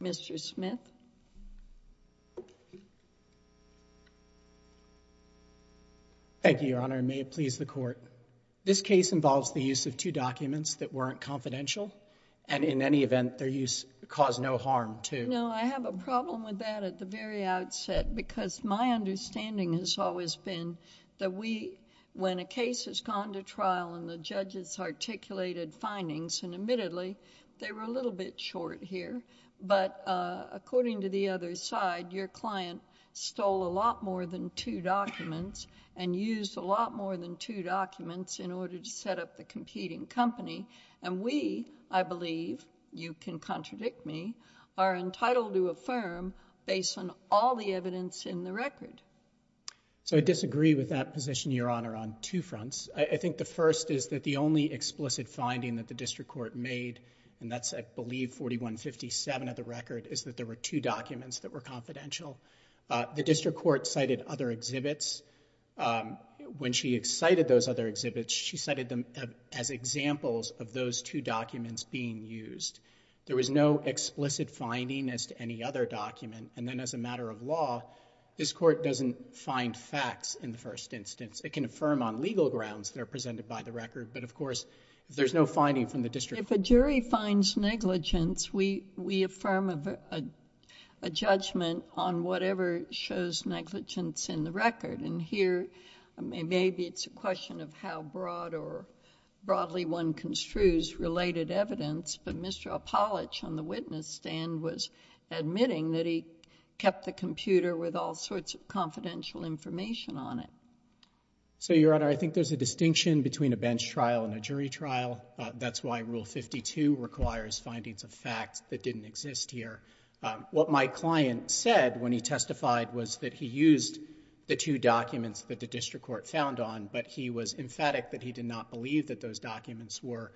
Mr. Smith. Thank you, Your Honor, and may it please the Court. This case involves the use of two documents that weren't confidential, and in any event their use caused no harm to— No, I have a problem with that at the very outset, because my understanding has always been that when a case has gone to trial and the judges articulated findings, and admittedly they were a little bit short here, but according to the other side, your client stole a lot more than two documents and used a lot more than two documents in order to set up the competing company, and we, I believe, you can contradict me, are entitled to affirm based on all the evidence in the record. So, I disagree with that position, Your Honor, on two fronts. I think the first is that the only explicit finding that the District Court made, and that's I believe 4157 of the record, is that there were two documents that were confidential. The District Court cited other exhibits. When she cited those other exhibits, she cited them as examples of those two documents being used. There was no explicit finding as to any other document, and then as a matter of law, this doesn't find facts in the first instance. It can affirm on legal grounds that are presented by the record, but of course, if there's no finding from the District Court... JUDGE NANCY GERTNER. If a jury finds negligence, we affirm a judgment on whatever shows negligence in the record, and here, maybe it's a question of how broad or broadly one construes related evidence, but Mr. Apolitch on the witness stand was admitting that he kept the computer with all confidential information on it. MR. BOUTROUS. So, Your Honor, I think there's a distinction between a bench trial and a jury trial. That's why Rule 52 requires findings of facts that didn't exist here. What my client said when he testified was that he used the two documents that the District Court found on, but he was emphatic that he did not believe that those documents were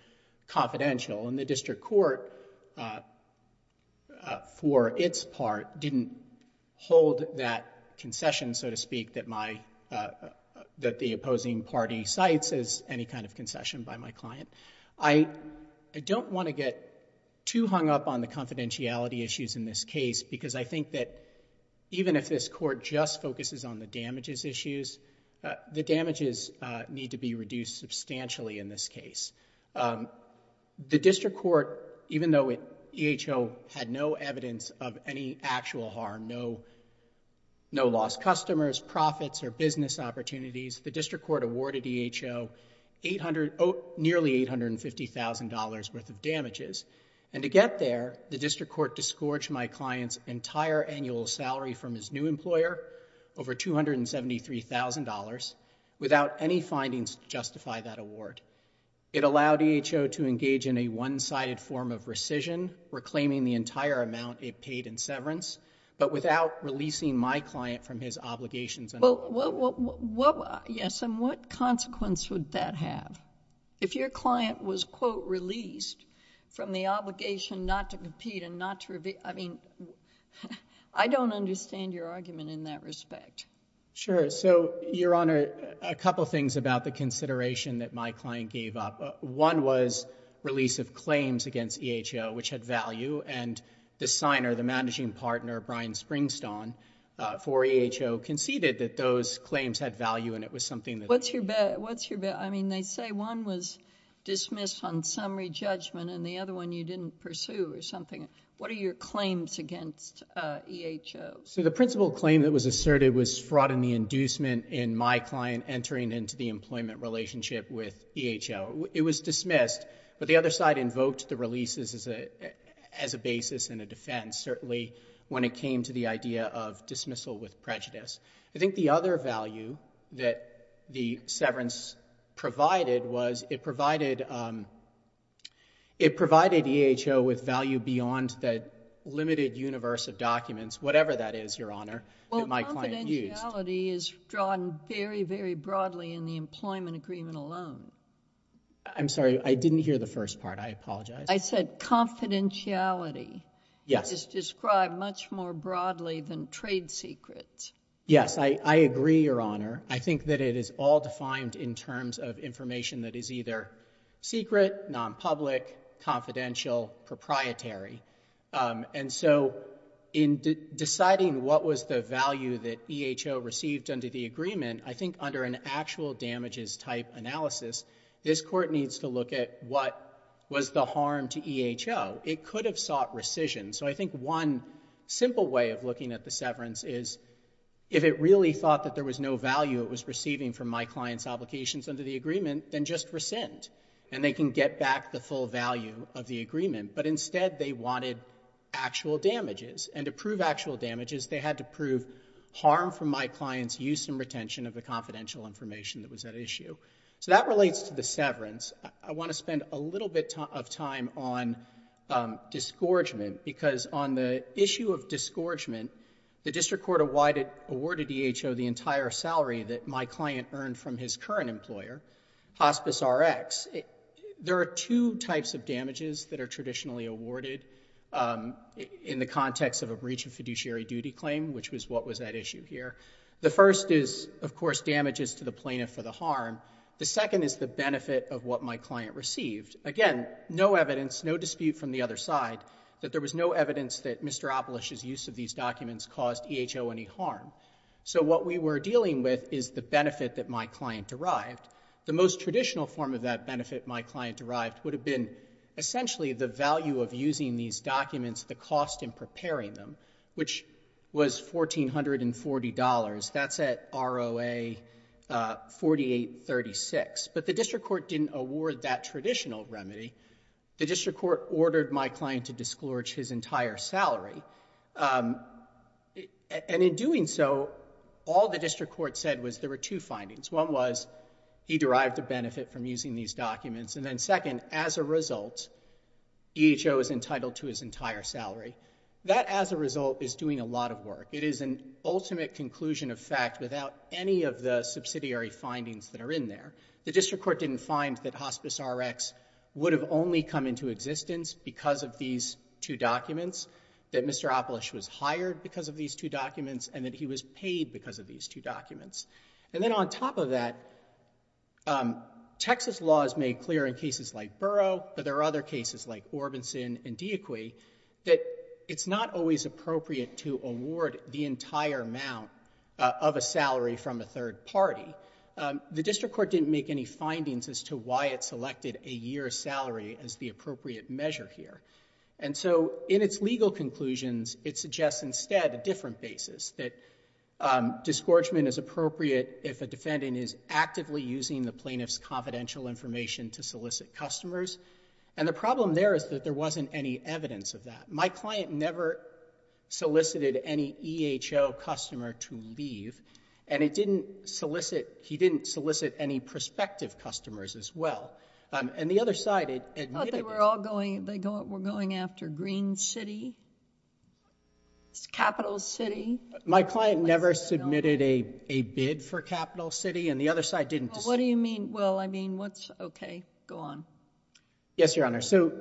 confidential. And the District Court, for its part, didn't hold that concession, so to speak, that the opposing party cites as any kind of concession by my client. I don't want to get too hung up on the confidentiality issues in this case because I think that even if this Court just focuses on the damages issues, the damages need to be reduced substantially in this case. The District Court, even though EHO had no evidence of any actual harm, no lost customers, profits or business opportunities, the District Court awarded EHO nearly $850,000 worth of damages. And to get there, the District Court disgorged my client's entire annual salary from his new employer over $273,000 without any findings to justify that award. It allowed EHO to engage in a one-sided form of rescission, reclaiming the entire amount it paid in severance, but without releasing my client from his obligations. Well, yes, and what consequence would that have? If your client was, quote, released from the obligation not to compete and not to, I mean, I don't understand your argument in that respect. Sure. So, Your Honor, a couple of things about the consideration that my client gave up. One was release of claims against EHO, which had value, and the signer, the managing partner, Brian Springstone, for EHO conceded that those claims had value and it was something that... What's your bet? I mean, they say one was dismissed on summary judgment and the other one you didn't pursue or something. What are your claims against EHO? So the principal claim that was asserted was fraud in the inducement in my client entering into the employment relationship with EHO. It was dismissed, but the other side invoked the releases as a basis and a defense, certainly when it came to the idea of dismissal with prejudice. I think the other value that the severance provided was it provided EHO with value beyond the limited universe of documents, whatever that is, Your Honor, that my client used. Well, confidentiality is drawn very, very broadly in the employment agreement alone. I'm sorry. I didn't hear the first part. I apologize. I said confidentiality... Yes.... is described much more broadly than trade secrets. Yes. I agree, Your Honor. I think that it is all defined in terms of information that is either secret, nonpublic, confidential, proprietary. And so in deciding what was the value that EHO received under the agreement, I think under an actual damages type analysis, this Court needs to look at what was the harm to EHO. It could have sought rescission. So I think one simple way of looking at the severance is if it really thought that there was no value it was receiving from my client's obligations under the agreement, then just rescind. And they can get back the full value of the agreement. But instead, they wanted actual damages. And to prove actual damages, they had to prove harm from my client's use and retention of the confidential information that was at issue. So that relates to the severance. I want to spend a little bit of time on disgorgement because on the issue of disgorgement, the District Court awarded EHO the entire salary that my client earned from his There are two types of damages that are traditionally awarded in the context of a breach of fiduciary duty claim, which was what was at issue here. The first is, of course, damages to the plaintiff for the harm. The second is the benefit of what my client received. Again, no evidence, no dispute from the other side that there was no evidence that Mr. Opolish's use of these documents caused EHO any harm. So what we were dealing with is the benefit that my client derived. The most traditional form of that benefit my client derived would have been essentially the value of using these documents, the cost in preparing them, which was $1,440. That's at ROA 4836. But the District Court didn't award that traditional remedy. The District Court ordered my client to disgorge his entire salary. And in doing so, all the District Court said was there were two findings. One was, he derived a benefit from using these documents. And then second, as a result, EHO is entitled to his entire salary. That as a result is doing a lot of work. It is an ultimate conclusion of fact without any of the subsidiary findings that are in there. The District Court didn't find that Hospice Rx would have only come into existence because of these two documents, that Mr. Opolish was hired because of these two documents, and that he was paid because of these two documents. And then on top of that, Texas law is made clear in cases like Burrough, but there are other cases like Orbison and D'Equy, that it's not always appropriate to award the entire amount of a salary from a third party. The District Court didn't make any findings as to why it selected a year's salary as the appropriate measure here. And so in its legal conclusions, it suggests instead a different basis, that disgorgement is appropriate if a defendant is actively using the plaintiff's confidential information to solicit customers. And the problem there is that there wasn't any evidence of that. My client never solicited any EHO customer to leave, and he didn't solicit any prospective customers as well. And the other side admitted... I thought they were all going after Green City, Capital City. My client never submitted a bid for Capital City, and the other side didn't... Well, what do you mean? Well, I mean, what's... okay, go on. Yes, Your Honor. So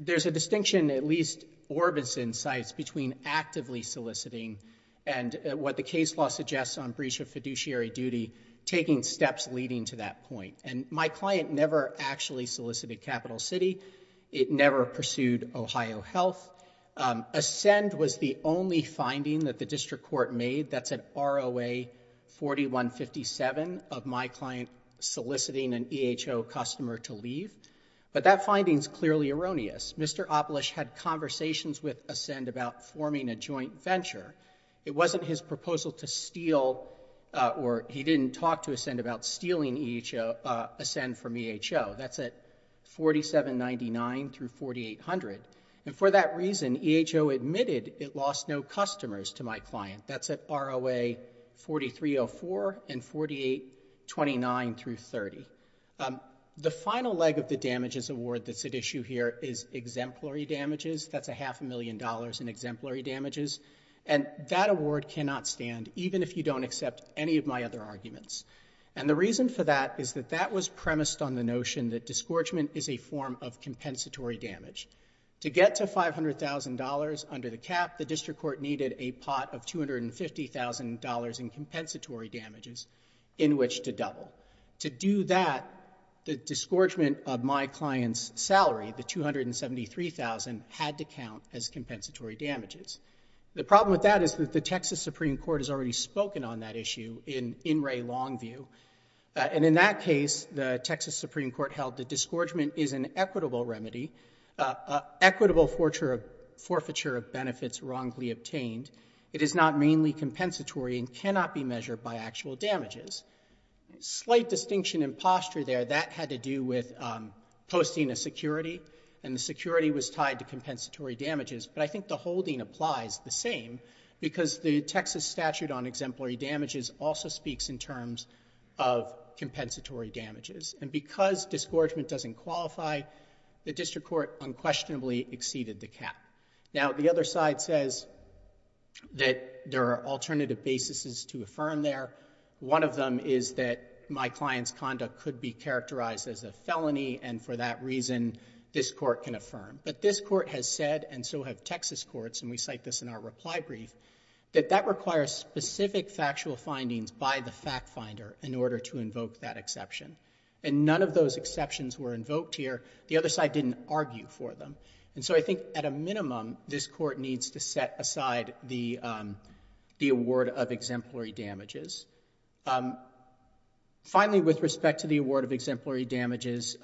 there's a distinction, at least Orbison's side, between actively soliciting and what the case law suggests on breach of fiduciary duty, taking steps leading to that point. And my client never actually solicited Capital City. It never pursued Ohio Health. ASCEND was the only finding that the district court made, that's at ROA 4157, of my client soliciting an EHO customer to leave. But that finding's clearly erroneous. Mr. Opelish had conversations with ASCEND about forming a joint venture. It wasn't his proposal to steal, or he didn't talk to ASCEND about stealing EHO... ASCEND from EHO. That's at 4799 through 4800. And for that reason, EHO admitted it lost no customers to my client. That's at ROA 4304 and 4829 through 30. The final leg of the damages award that's at issue here is exemplary damages. That's a half a million dollars in exemplary damages. And that award cannot stand, even if you don't accept any of my other arguments. And the reason for that is that that was premised on the notion that disgorgement is a form of compensatory damage. To get to $500,000 under the cap, the district court needed a pot of $250,000 in compensatory damages in which to double. To do that, the disgorgement of my client's salary, the $273,000, had to count as compensatory damages. The problem with that is that the Texas Supreme Court has already spoken on that issue in In Re Longview. And in that case, the Texas Supreme Court held that disgorgement is an equitable remedy, an equitable forfeiture of benefits wrongly obtained. It is not mainly compensatory and cannot be measured by actual damages. Slight distinction in posture there. That had to do with posting a security, and the security was tied to compensatory damages. But I think the holding applies the same because the Texas statute on exemplary damages also applies to compensatory damages. And because disgorgement doesn't qualify, the district court unquestionably exceeded the cap. Now, the other side says that there are alternative basis to affirm there. One of them is that my client's conduct could be characterized as a felony, and for that reason, this court can affirm. But this court has said, and so have Texas courts, and we cite this in our reply brief, that that requires specific factual findings by the fact finder in order to invoke that exception. And none of those exceptions were invoked here. The other side didn't argue for them. And so I think at a minimum, this court needs to set aside the award of exemplary damages. Finally, with respect to the award of exemplary damages,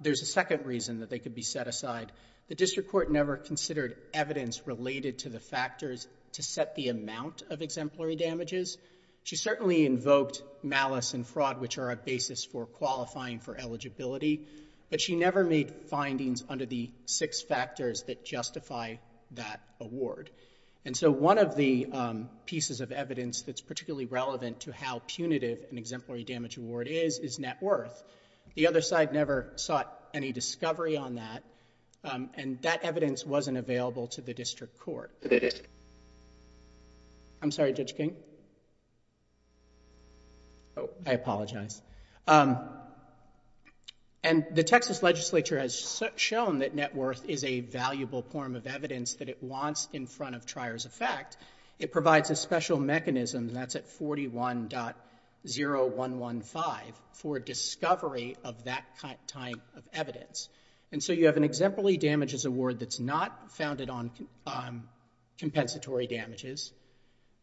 there's a second reason that they could be set aside. The district court never considered evidence related to the factors to set the amount of exemplary damages. She certainly invoked malice and fraud, which are a basis for qualifying for eligibility. But she never made findings under the six factors that justify that award. And so one of the pieces of evidence that's particularly relevant to how punitive an exemplary damage award is, is net worth. The other side never sought any discovery on that, and that evidence wasn't available to the district court. I'm sorry, Judge King? Oh, I apologize. And the Texas legislature has shown that net worth is a valuable form of evidence that it wants in front of trier's effect. It provides a special mechanism that's at 41.0115 for discovery of that type of evidence. And so you have an exemplary damages award that's not founded on compensatory damages,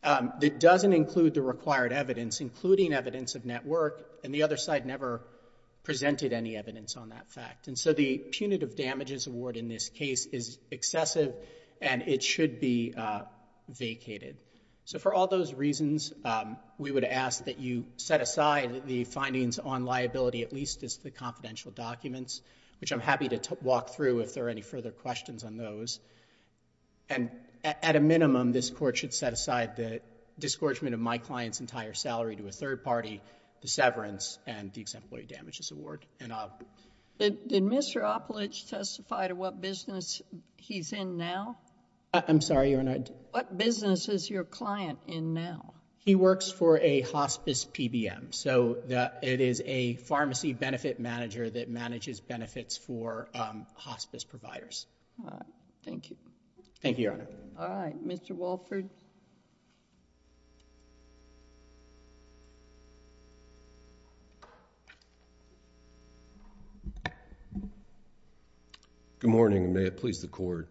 that doesn't include the required evidence, including evidence of net worth, and the other side never presented any evidence on that fact. And so the punitive damages award in this case is excessive, and it should be vacated. So for all those reasons, we would ask that you set aside the findings on liability, at least as the confidential documents, which I'm happy to walk through if there are any further questions on those. And at a minimum, this court should set aside the disgorgement of my client's entire salary to a third party, the severance, and the exemplary damages award. Did Mr. Oppolich testify to what business he's in now? I'm sorry, Your Honor. What business is your client in now? He works for a hospice PBM. So it is a pharmacy benefit manager that manages benefits for hospice providers. Thank you. Thank you, Your Honor. All right. Mr. Walford? Good morning, and may it please the court.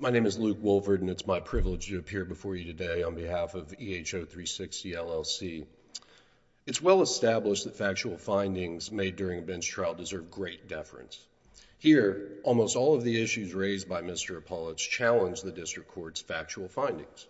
My name is Luke Walford, and it's my privilege to appear before you today on behalf of EHO 360 LLC. It's well established that factual findings made during a bench trial deserve great deference. Here, almost all of the issues raised by Mr. Oppolich challenge the district court's factual findings.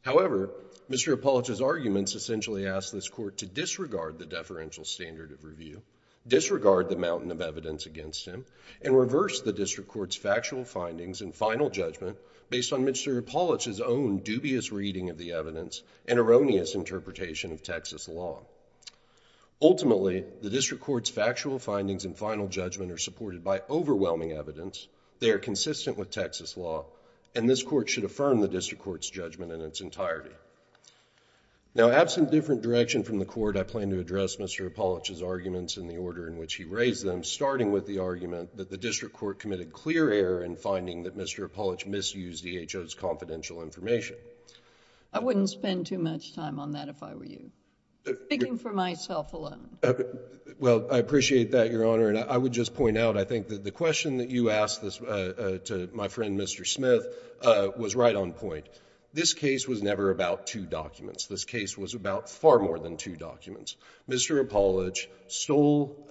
However, Mr. Oppolich's arguments essentially ask this court to disregard the deferential standard of review, disregard the mountain of evidence against him, and reverse the district court's factual findings and final judgment based on Mr. Oppolich's own dubious reading of the evidence and erroneous interpretation of Texas law. Ultimately, the district court's factual findings and final judgment are supported by overwhelming evidence. They are consistent with Texas law, and this court should affirm the district court's judgment in its entirety. Now, absent different direction from the court, I plan to address Mr. Oppolich's arguments in the order in which he raised them, starting with the argument that the district court committed clear error in finding that Mr. Oppolich misused EHO's confidential information. I wouldn't spend too much time on that if I were you. I'm speaking for myself alone. Well, I appreciate that, Your Honor, and I would just point out, I think, that the question that you asked my friend Mr. Smith was right on point. This case was never about two documents. This case was about far more than two documents. Mr. Oppolich stole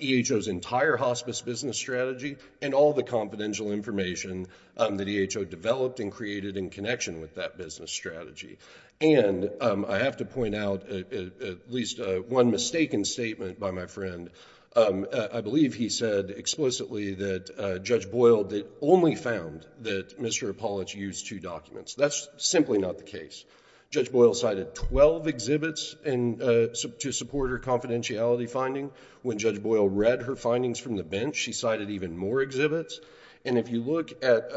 EHO's entire hospice business strategy and all the confidential information that EHO developed and created in connection with that business strategy. And I have to point out at least one mistaken statement by my friend. I believe he said explicitly that Judge Boyle only found that Mr. Oppolich used two documents. That's simply not the case. Judge Boyle cited 12 exhibits to support her confidentiality finding. When Judge Boyle read her findings from the bench, she cited even more exhibits. And if you look at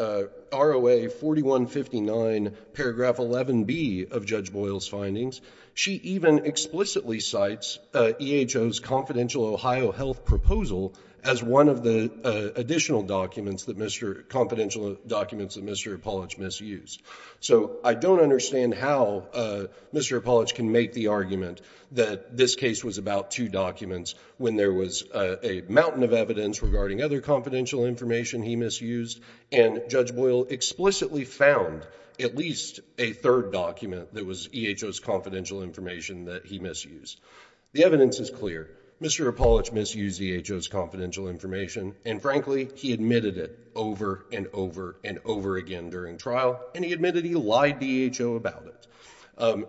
ROA 4159, paragraph 11B of Judge Boyle's findings, she even explicitly cites EHO's confidential Ohio health proposal as one of the additional documents, confidential documents that Mr. Oppolich misused. So I don't understand how Mr. Oppolich can make the argument that this case was about two documents when there was a mountain of evidence regarding other confidential information he misused and Judge Boyle explicitly found at least a third document that was EHO's confidential information that he misused. The evidence is clear. Mr. Oppolich misused EHO's confidential information and frankly, he admitted it over and over and over again during trial and he admitted he lied to EHO about it.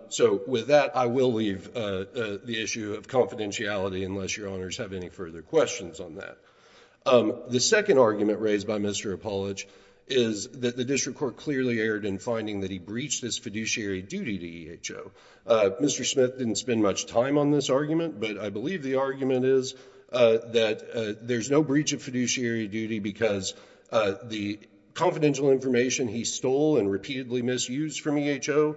So with that, I will leave the issue of confidentiality unless your honors have any further questions on that. The second argument raised by Mr. Oppolich is that the district court clearly erred in finding that he breached his fiduciary duty to EHO. Mr. Smith didn't spend much time on this argument, but I believe the argument is that there's no breach of fiduciary duty because the confidential information he stole and repeatedly misused from EHO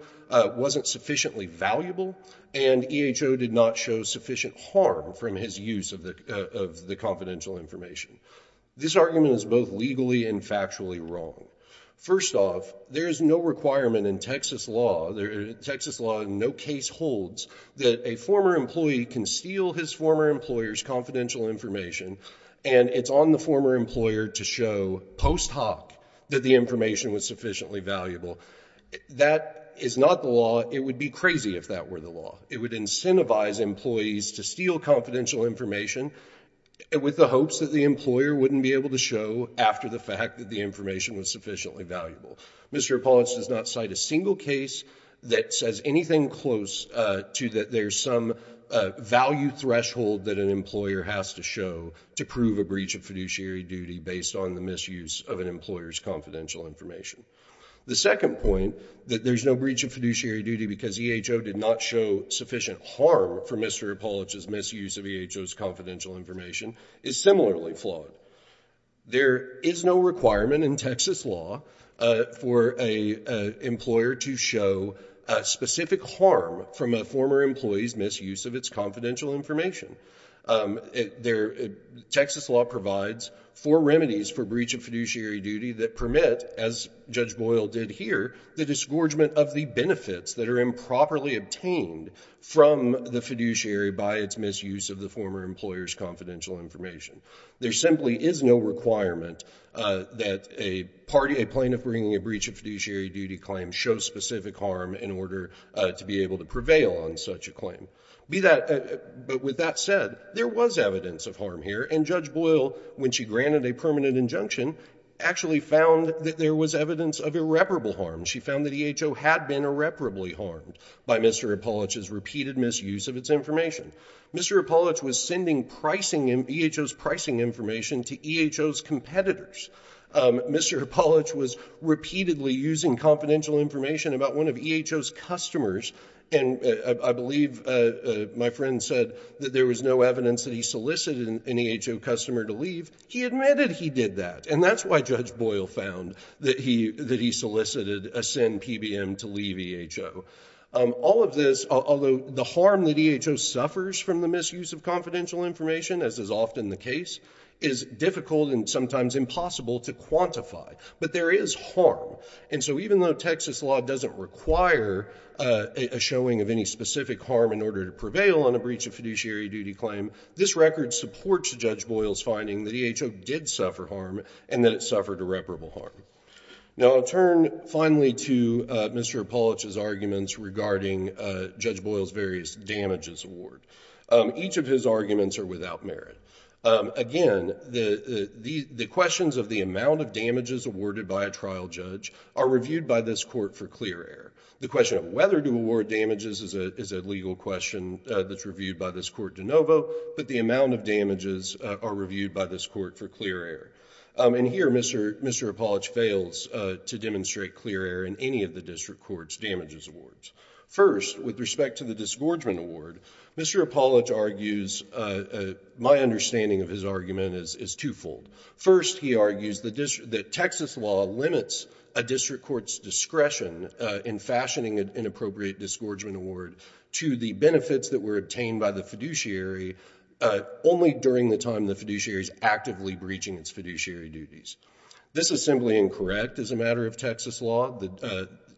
wasn't sufficiently valuable and EHO did not show sufficient harm from his use of the confidential information. This argument is both legally and factually wrong. First off, there is no requirement in Texas law, Texas law in no case holds that a former employee can steal his former employer's confidential information and it's on the former employer to show post hoc that the information was sufficiently valuable. That is not the law. It would be crazy if that were the law. It would incentivize employees to steal confidential information with the hopes that the employer wouldn't be able to show after the fact that the information was sufficiently valuable. Mr. Oppolich does not cite a single case that says anything close to that there's some value threshold that an employer has to show to prove a breach of fiduciary duty based on the misuse of an employer's confidential information. The second point, that there's no breach of fiduciary duty because EHO did not show that the employer's confidential information is similarly flawed. There is no requirement in Texas law for an employer to show specific harm from a former employee's misuse of its confidential information. Texas law provides four remedies for breach of fiduciary duty that permit, as Judge Boyle did here, the disgorgement of the benefits that are improperly obtained from the fiduciary by its misuse of the former employer's confidential information. There simply is no requirement that a plaintiff bringing a breach of fiduciary duty claim show specific harm in order to be able to prevail on such a claim. But with that said, there was evidence of harm here, and Judge Boyle, when she granted a permanent injunction, actually found that there was evidence of irreparable harm. She found that EHO had been irreparably harmed by Mr. Hippolych's repeated misuse of its information. Mr. Hippolych was sending EHO's pricing information to EHO's competitors. Mr. Hippolych was repeatedly using confidential information about one of EHO's customers, and I believe my friend said that there was no evidence that he solicited an EHO customer to leave. He admitted he did that. And that's why Judge Boyle found that he solicited a SIN PBM to leave EHO. All of this, although the harm that EHO suffers from the misuse of confidential information, as is often the case, is difficult and sometimes impossible to quantify, but there is harm. And so even though Texas law doesn't require a showing of any specific harm in order to prevail on a breach of fiduciary duty claim, this record supports Judge Boyle's finding that EHO did suffer harm and that it suffered irreparable harm. Now I'll turn finally to Mr. Hippolych's arguments regarding Judge Boyle's various damages award. Each of his arguments are without merit. Again, the questions of the amount of damages awarded by a trial judge are reviewed by this court for clear error. The question of whether to award damages is a legal question that's reviewed by this court for de novo, but the amount of damages are reviewed by this court for clear error. And here, Mr. Hippolych fails to demonstrate clear error in any of the district court's damages awards. First, with respect to the disgorgement award, Mr. Hippolych argues, my understanding of his argument is twofold. First, he argues that Texas law limits a district court's discretion in fashioning an appropriate disgorgement award to the benefits that were obtained by the fiduciary only during the time the fiduciary is actively breaching its fiduciary duties. This is simply incorrect as a matter of Texas law.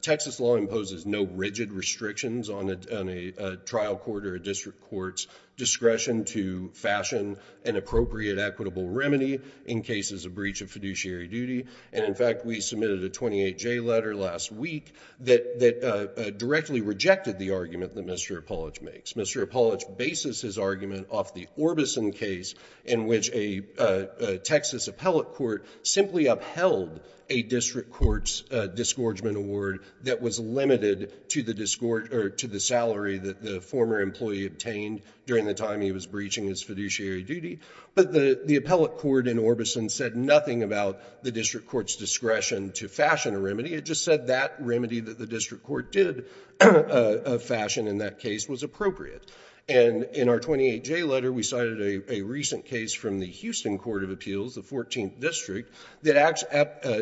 Texas law imposes no rigid restrictions on a trial court or a district court's discretion to fashion an appropriate equitable remedy in cases of breach of fiduciary duty. And in fact, we submitted a 28-J letter last week that directly rejected the argument that Mr. Hippolych makes. Mr. Hippolych bases his argument off the Orbison case in which a Texas appellate court simply upheld a district court's disgorgement award that was limited to the salary that the former employee obtained during the time he was breaching his fiduciary duty. But the appellate court in Orbison said nothing about the district court's discretion to fashion a remedy. It just said that remedy that the district court did fashion in that case was appropriate. And in our 28-J letter, we cited a recent case from the Houston Court of Appeals, the 14th District, that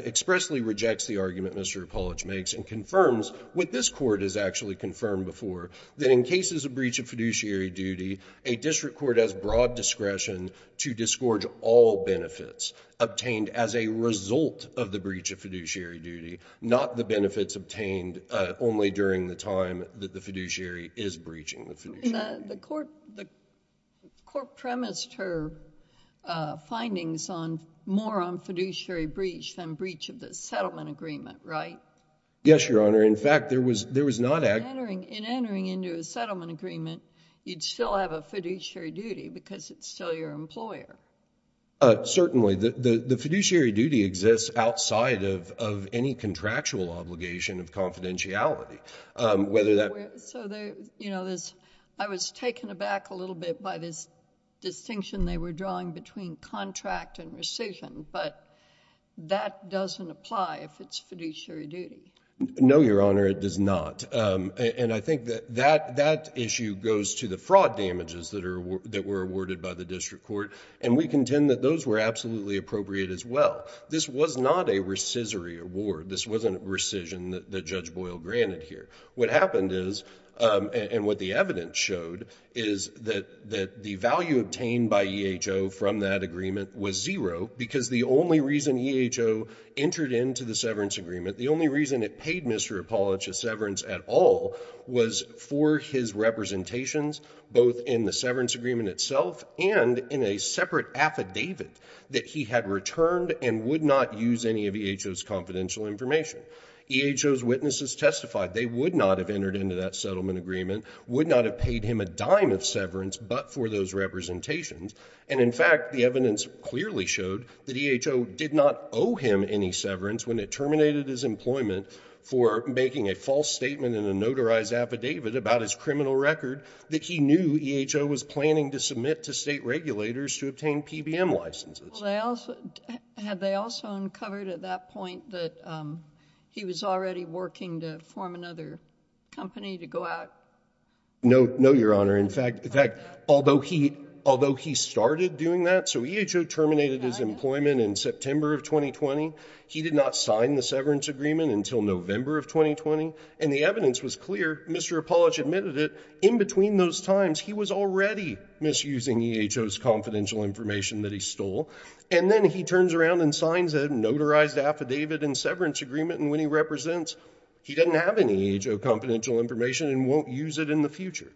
expressly rejects the argument Mr. Hippolych makes and confirms what this Court has actually confirmed before, that in cases of breach of fiduciary duty, a district court has broad discretion to disgorge all benefits obtained as a result of the breach of fiduciary duty, not the benefits obtained only during the time that the fiduciary is breaching the fiduciary duty. The court premised her findings more on fiduciary breach than breach of the settlement agreement, right? Yes, Your Honor. In fact, there was not actually. In entering into a settlement agreement, you'd still have a fiduciary duty, because it's still your employer. Certainly. The fiduciary duty exists outside of any contractual obligation of confidentiality, whether that. So I was taken aback a little bit by this distinction they were drawing between contract and rescission. But that doesn't apply if it's fiduciary duty. No, Your Honor, it does not. And I think that that issue goes to the fraud damages that were awarded by the district court. And we contend that those were absolutely appropriate as well. This was not a rescissory award. This wasn't rescission that Judge Boyle granted here. What happened is, and what the evidence showed, is that the value obtained by EHO from that agreement was zero, because the only reason EHO entered into the severance agreement, the only reason it paid Mr. Apolitch a severance at all, was for his representations, both in the severance agreement itself and in a separate affidavit that he had returned and would not use any of EHO's confidential information. EHO's witnesses testified they would not have entered into that settlement agreement, would not have paid him a dime of severance, but for those representations. And in fact, the evidence clearly showed that EHO did not terminate his employment for making a false statement in a notarized affidavit about his criminal record that he knew EHO was planning to submit to state regulators to obtain PBM licenses. Had they also uncovered at that point that he was already working to form another company to go out? No, no, Your Honor. In fact, although he started doing that, so EHO terminated his employment in September of 2020, he did not sign the severance agreement until November of 2020. And the evidence was clear. Mr. Apolitch admitted it. In between those times, he was already misusing EHO's confidential information that he stole. And then he turns around and signs a notarized affidavit and severance agreement, and when he represents, he doesn't have any EHO confidential information and won't use it in the future.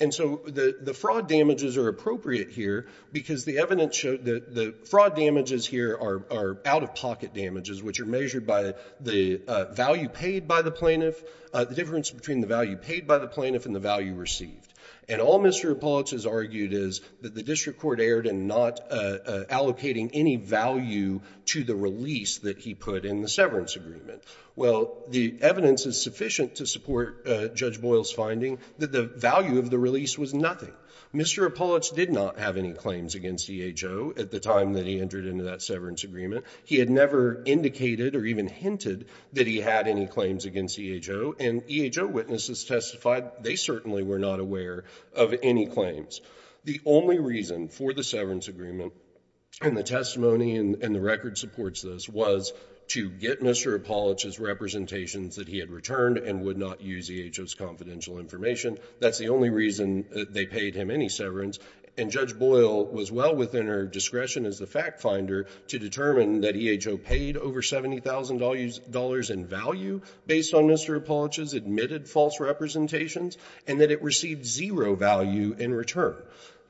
And so the fraud damages are appropriate here because the evidence showed that the fraud damages here are out-of-pocket damages, which are measured by the value paid by the plaintiff, the difference between the value paid by the plaintiff and the value received. And all Mr. Apolitch has argued is that the district court erred in not allocating any value to the release that he put in the severance agreement. Well, the evidence is sufficient to support Judge Boyle's finding that the value of the release was nothing. Mr. Apolitch did not have any claims against EHO at the time that he entered into that severance agreement. He had never indicated or even hinted that he had any claims against EHO. And EHO witnesses testified they certainly were not aware of any claims. The only reason for the severance agreement and the testimony and the record supports this was to get Mr. Apolitch's representations that he had returned and would not use EHO's confidential information. That's the only reason they paid him any severance. And Judge Boyle was well within her discretion as the fact finder to determine that EHO paid over $70,000 in value based on Mr. Apolitch's admitted false representations and that it received zero value in return.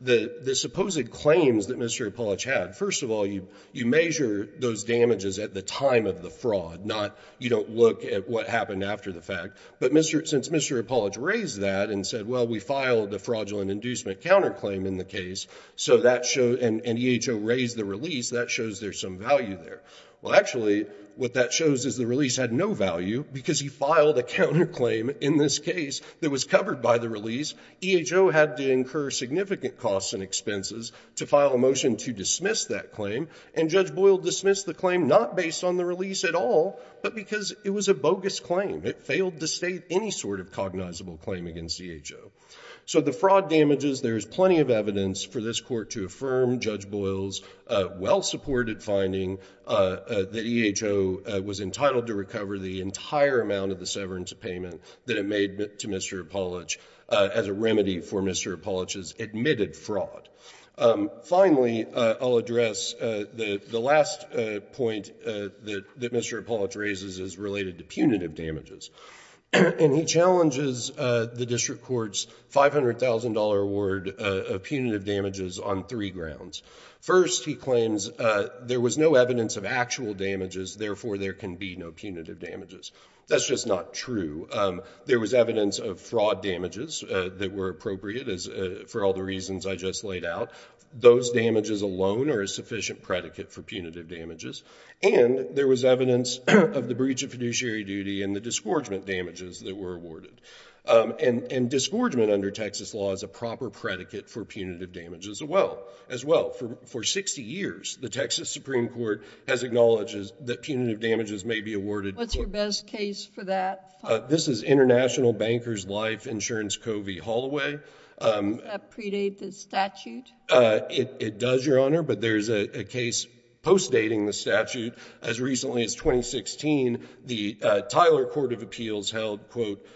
The supposed claims that Mr. Apolitch had, first of all, you measure those damages at the time of the fraud. You don't look at what happened after the fact. But since Mr. Apolitch raised that and said, well, we filed a fraudulent inducement counterclaim in the case, and EHO raised the release, that shows there's some value there. Well, actually, what that shows is the release had no value because he filed a counterclaim in this case that was covered by the release. EHO had to incur significant costs and expenses to file a motion to dismiss that claim. And Judge Boyle dismissed the claim not based on the release at all, but because it was a bogus claim. It failed to state any sort of cognizable claim against EHO. So the fraud damages, there's plenty of evidence for this court to affirm Judge Boyle's well-supported finding that EHO was entitled to recover the entire amount of the severance payment that it made to Mr. Apolitch as a remedy for Mr. Apolitch's admitted fraud. Finally, I'll address the last point that Mr. Apolitch raises is related to punitive damages. And he challenges the district court's $500,000 award of punitive damages on three grounds. First, he claims there was no evidence of actual damages, therefore there can be no punitive damages. That's just not true. There was evidence of fraud damages that were appropriate for all the reasons I just laid out. Those damages alone are a sufficient predicate for punitive damages. And there was evidence of the breach of fiduciary duty and the disgorgement damages that were awarded. And disgorgement under Texas law is a proper predicate for punitive damages as well. As well, for 60 years, the Texas Supreme Court has acknowledged that punitive damages may be awarded. What's your best case for that? This is International Bankers Life Insurance Covey-Holloway. Does that predate the statute? It does, Your Honor. But there is a case post-dating the statute. As recently as 2016, the Tyler Court of Appeals held, quote,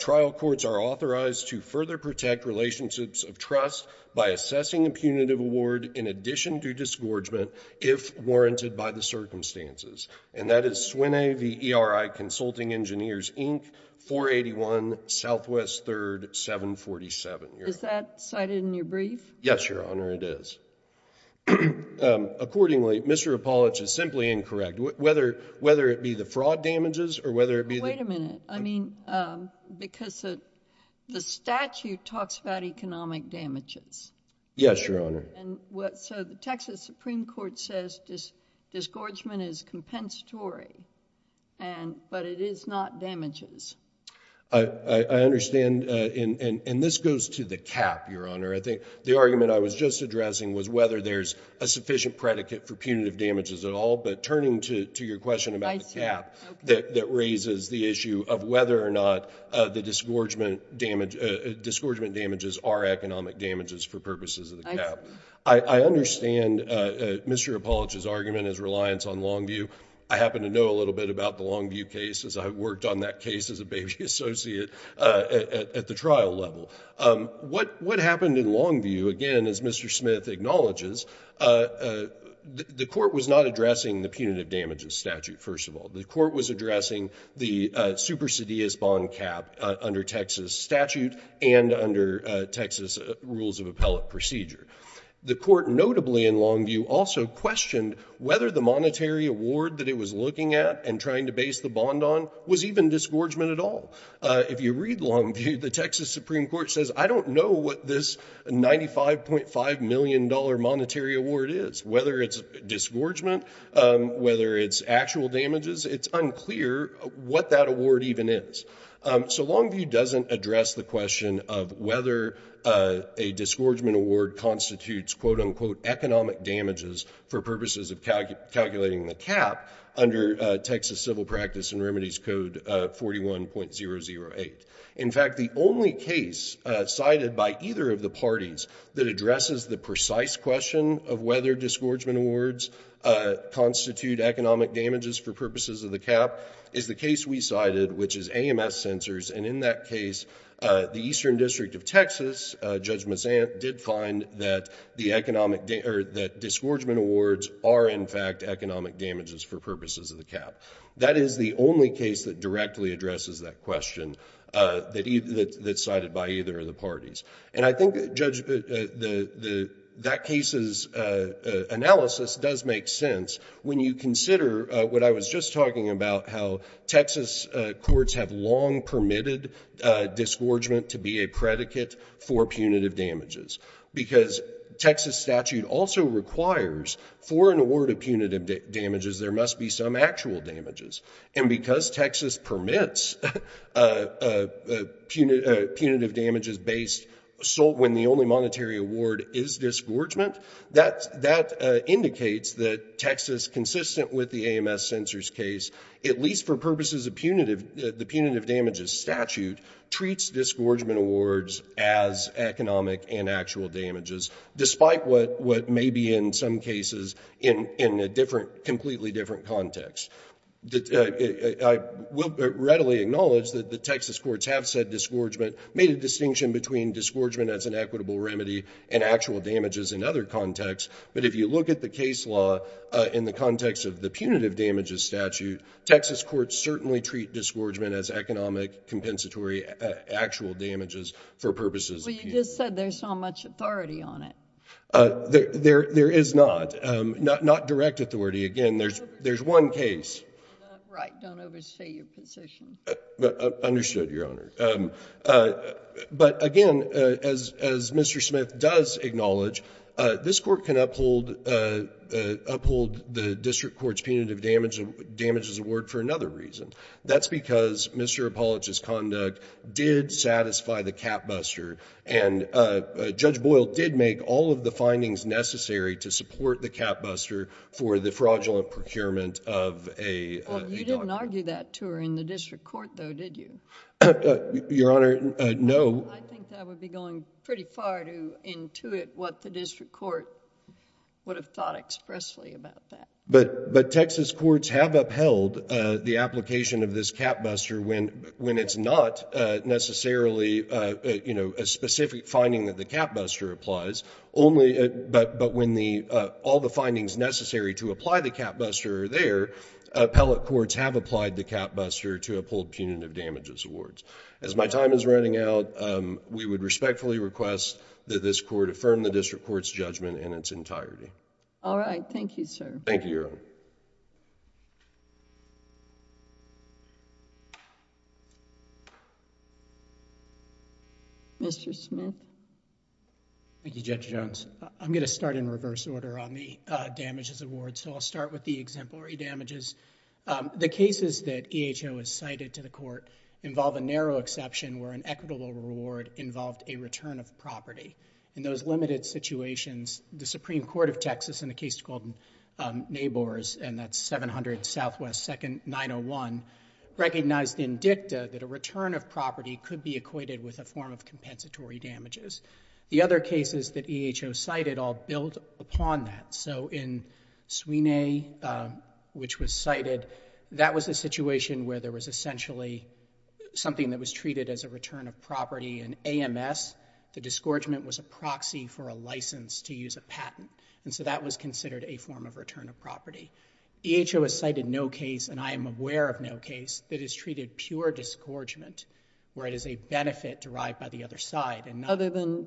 trial courts are authorized to further protect relationships of trust by assessing a punitive award in addition to disgorgement if warranted by the circumstances. And that is SWINAE v. ERI Consulting Engineers, Inc., 481 Southwest 3rd, 747. Is that cited in your brief? Yes, Your Honor, it is. Accordingly, Mr. Apollich is simply incorrect. Whether it be the fraud damages or whether it be the- Wait a minute. I mean, because the statute talks about economic damages. Yes, Your Honor. So the Texas Supreme Court says disgorgement is compensatory, but it is not damages. I understand. And this goes to the cap, Your Honor. The argument I was just addressing was whether there's a sufficient predicate for punitive damages at all. But turning to your question about the cap, that raises the issue of whether or not the disgorgement damages are economic damages for purposes of the cap. I understand Mr. Apollich's argument is reliance on Longview. I happen to know a little bit about the Longview cases. I worked on that case as a baby associate at the trial level. What happened in Longview, again, as Mr. Smith acknowledges, the court was not addressing the punitive damages statute, first of all. The court was addressing the supersedious bond cap under Texas statute and under Texas rules of appellate procedure. The court, notably in Longview, also questioned whether the monetary award that it was looking at and trying to base the bond on was even disgorgement at all. If you read Longview, the Texas Supreme Court says, I don't know what this $95.5 million monetary award is. Whether it's disgorgement, whether it's actual damages, it's unclear what that award even is. So Longview doesn't address the question of whether a disgorgement award constitutes, quote unquote, economic damages for purposes of calculating the cap under Texas civil practice and remedies code 41.008. In fact, the only case cited by either of the parties that addresses the precise question of whether disgorgement awards constitute economic damages for purposes of the cap is the case we cited, which is AMS censors. And in that case, the Eastern District of Texas, Judge Mazzant, did find that disgorgement awards are, in fact, economic damages for purposes of the cap. That is the only case that directly addresses that question that's cited by either of the parties. And I think, Judge, that case's analysis does make sense when you consider what I was just talking about, how Texas courts have long permitted disgorgement to be a predicate for punitive damages. Because Texas statute also requires, for an award of punitive damages, there must be some actual damages. And because Texas permits punitive damages-based assault when the only monetary award is disgorgement, that indicates that Texas, consistent with the AMS censors case, at least for purposes of the punitive damages statute, treats disgorgement awards as economic and actual damages, despite what may be, in some cases, in a completely different context. I will readily acknowledge that the Texas courts have said disgorgement, made a distinction between disgorgement as an equitable remedy and actual damages in other contexts. But if you look at the case law in the context of the punitive damages statute, Texas courts actual damages for purposes of punitive damages. But you just said there's not much authority on it. There is not. Not direct authority. Again, there's one case. Right, don't oversee your position. Understood, Your Honor. But again, as Mr. Smith does acknowledge, this court can uphold the district court's punitive damages award for another reason. That's because Mr. Apollich's conduct did satisfy the cap buster. And Judge Boyle did make all of the findings necessary to support the cap buster for the fraudulent procurement of a daughter. Well, you didn't argue that to her in the district court, though, did you? Your Honor, no. I think that would be going pretty far to intuit what the district court would have thought expressly about that. But Texas courts have upheld the application of this cap buster when it's not necessarily a specific finding that the cap buster applies. But when all the findings necessary to apply the cap buster are there, appellate courts have applied the cap buster to uphold punitive damages awards. As my time is running out, we would respectfully request that this court affirm the district court's judgment in its entirety. All right, thank you, sir. Thank you, Your Honor. Mr. Smith. Thank you, Judge Jones. I'm going to start in reverse order on the damages awards. So I'll start with the exemplary damages. The cases that EHO has cited to the court involve a narrow exception where an equitable reward involved a return of property. In those limited situations, the Supreme Court of Texas in a case called Nabors, and that's 700 Southwest 2nd, 901, recognized in dicta that a return of property could be equated with a form of compensatory damages. The other cases that EHO cited all build upon that. So in Sweeney, which was cited, that was a situation where there was essentially something that was treated as a return of property. In AMS, the disgorgement was a proxy for a license to use a patent. And so that was considered a form of return of property. EHO has cited no case, and I am aware of no case, that has treated pure disgorgement, where it is a benefit derived by the other side and not... Other than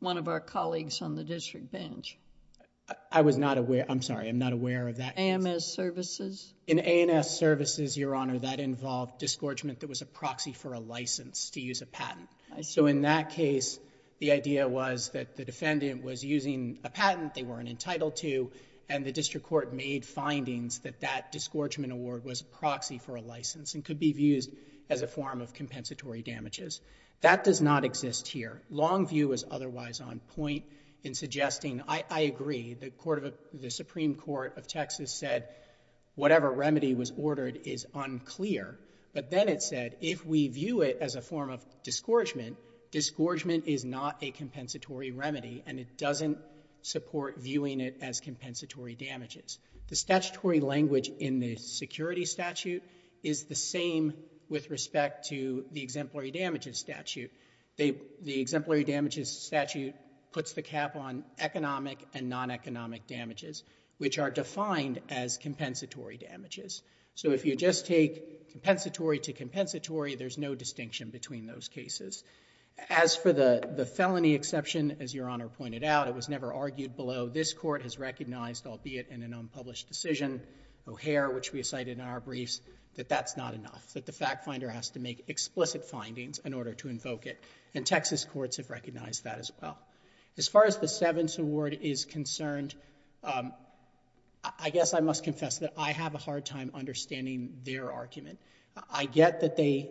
one of our colleagues on the district bench. I was not aware, I'm sorry, I'm not aware of that. AMS services? In AMS services, Your Honor, that involved disgorgement that was a proxy for a license to use a patent. So in that case, the idea was that the defendant was using a patent they weren't entitled to, and the district court made findings that that disgorgement award was a proxy for a license and could be used as a form of compensatory damages. That does not exist here. Long view is otherwise on point in suggesting, I agree, the Supreme Court of Texas said whatever remedy was ordered is unclear. But then it said, if we view it as a form of disgorgement, disgorgement is not a compensatory remedy, and it doesn't support viewing it as compensatory damages. The statutory language in the security statute is the same with respect to the exemplary damages statute. The exemplary damages statute puts the cap on economic and non-economic damages, which are defined as compensatory damages. So if you just take compensatory to compensatory, there's no distinction between those cases. As for the felony exception, as Your Honor pointed out, it was never argued below. This court has recognized, albeit in an unpublished decision, O'Hare, which we cited in our briefs, that that's not enough, that the fact finder has to make explicit findings in order to invoke it. And Texas courts have recognized that as well. As far as the Sevens Award is concerned, I guess I must confess that I have a hard time understanding their argument. I get that they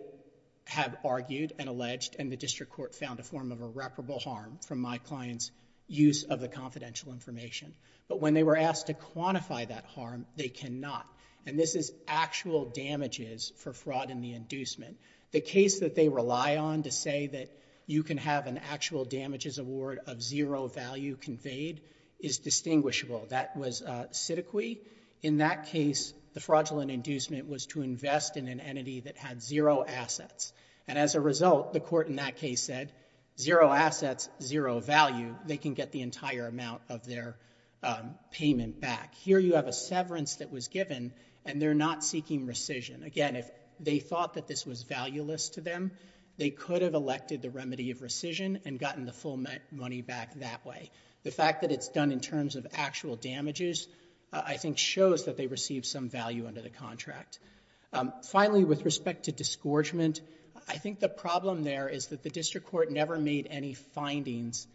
have argued and alleged and the district court found a form of irreparable harm from my client's use of the confidential information. But when they were asked to quantify that harm, they cannot. And this is actual damages for fraud in the inducement. The case that they rely on to say that you can have an actual damages award of zero value conveyed is distinguishable. That was Siddiqui. In that case, the fraudulent inducement was to invest in an entity that had zero assets. And as a result, the court in that case said, zero assets, zero value. They can get the entire amount of their payment back. Here you have a severance that was given, and they're not seeking rescission. Again, if they thought that this was valueless to them, they could have elected the remedy of rescission and gotten the full money back that way. The fact that it's done in terms of actual damages, I think, shows that they received some value under the contract. Finally, with respect to disgorgement, I think the problem there is that the district court never made any findings.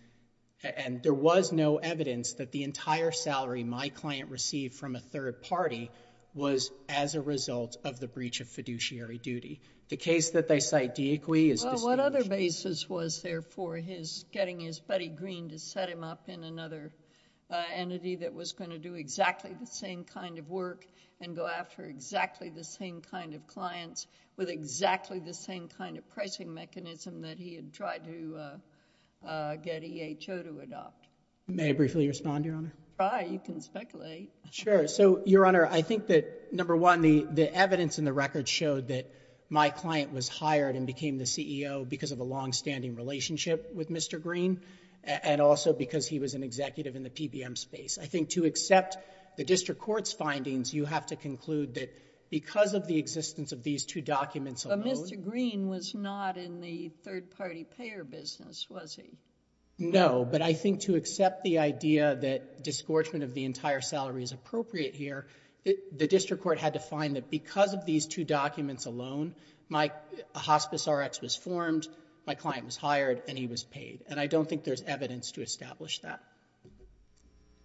And there was no evidence that the entire salary my client received from a third party was as a result of the breach of fiduciary duty. The case that they cite Siddiqui is distinguishable. Well, what other basis was there for getting his buddy Green to set him up in another entity that was going to do exactly the same kind of work and go after exactly the same kind of clients with exactly the same kind of pricing mechanism that he had tried to get EHO to adopt? May I briefly respond, Your Honor? Try. You can speculate. Sure. So, Your Honor, I think that, number one, the evidence in the record showed that my client was hired and became the CEO because of a longstanding relationship with Mr. Green and also because he was an executive in the PBM space. I think to accept the district court's findings, you have to conclude that because of the existence of these two documents alone. But Mr. Green was not in the third party payer business, was he? No, but I think to accept the idea that disgorgement of the entire salary is appropriate here, the district court had to find that because of these two documents alone, my hospice Rx was formed, my client was hired, and he was paid. And I don't think there's evidence to establish that.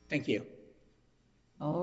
Thank you. All righty.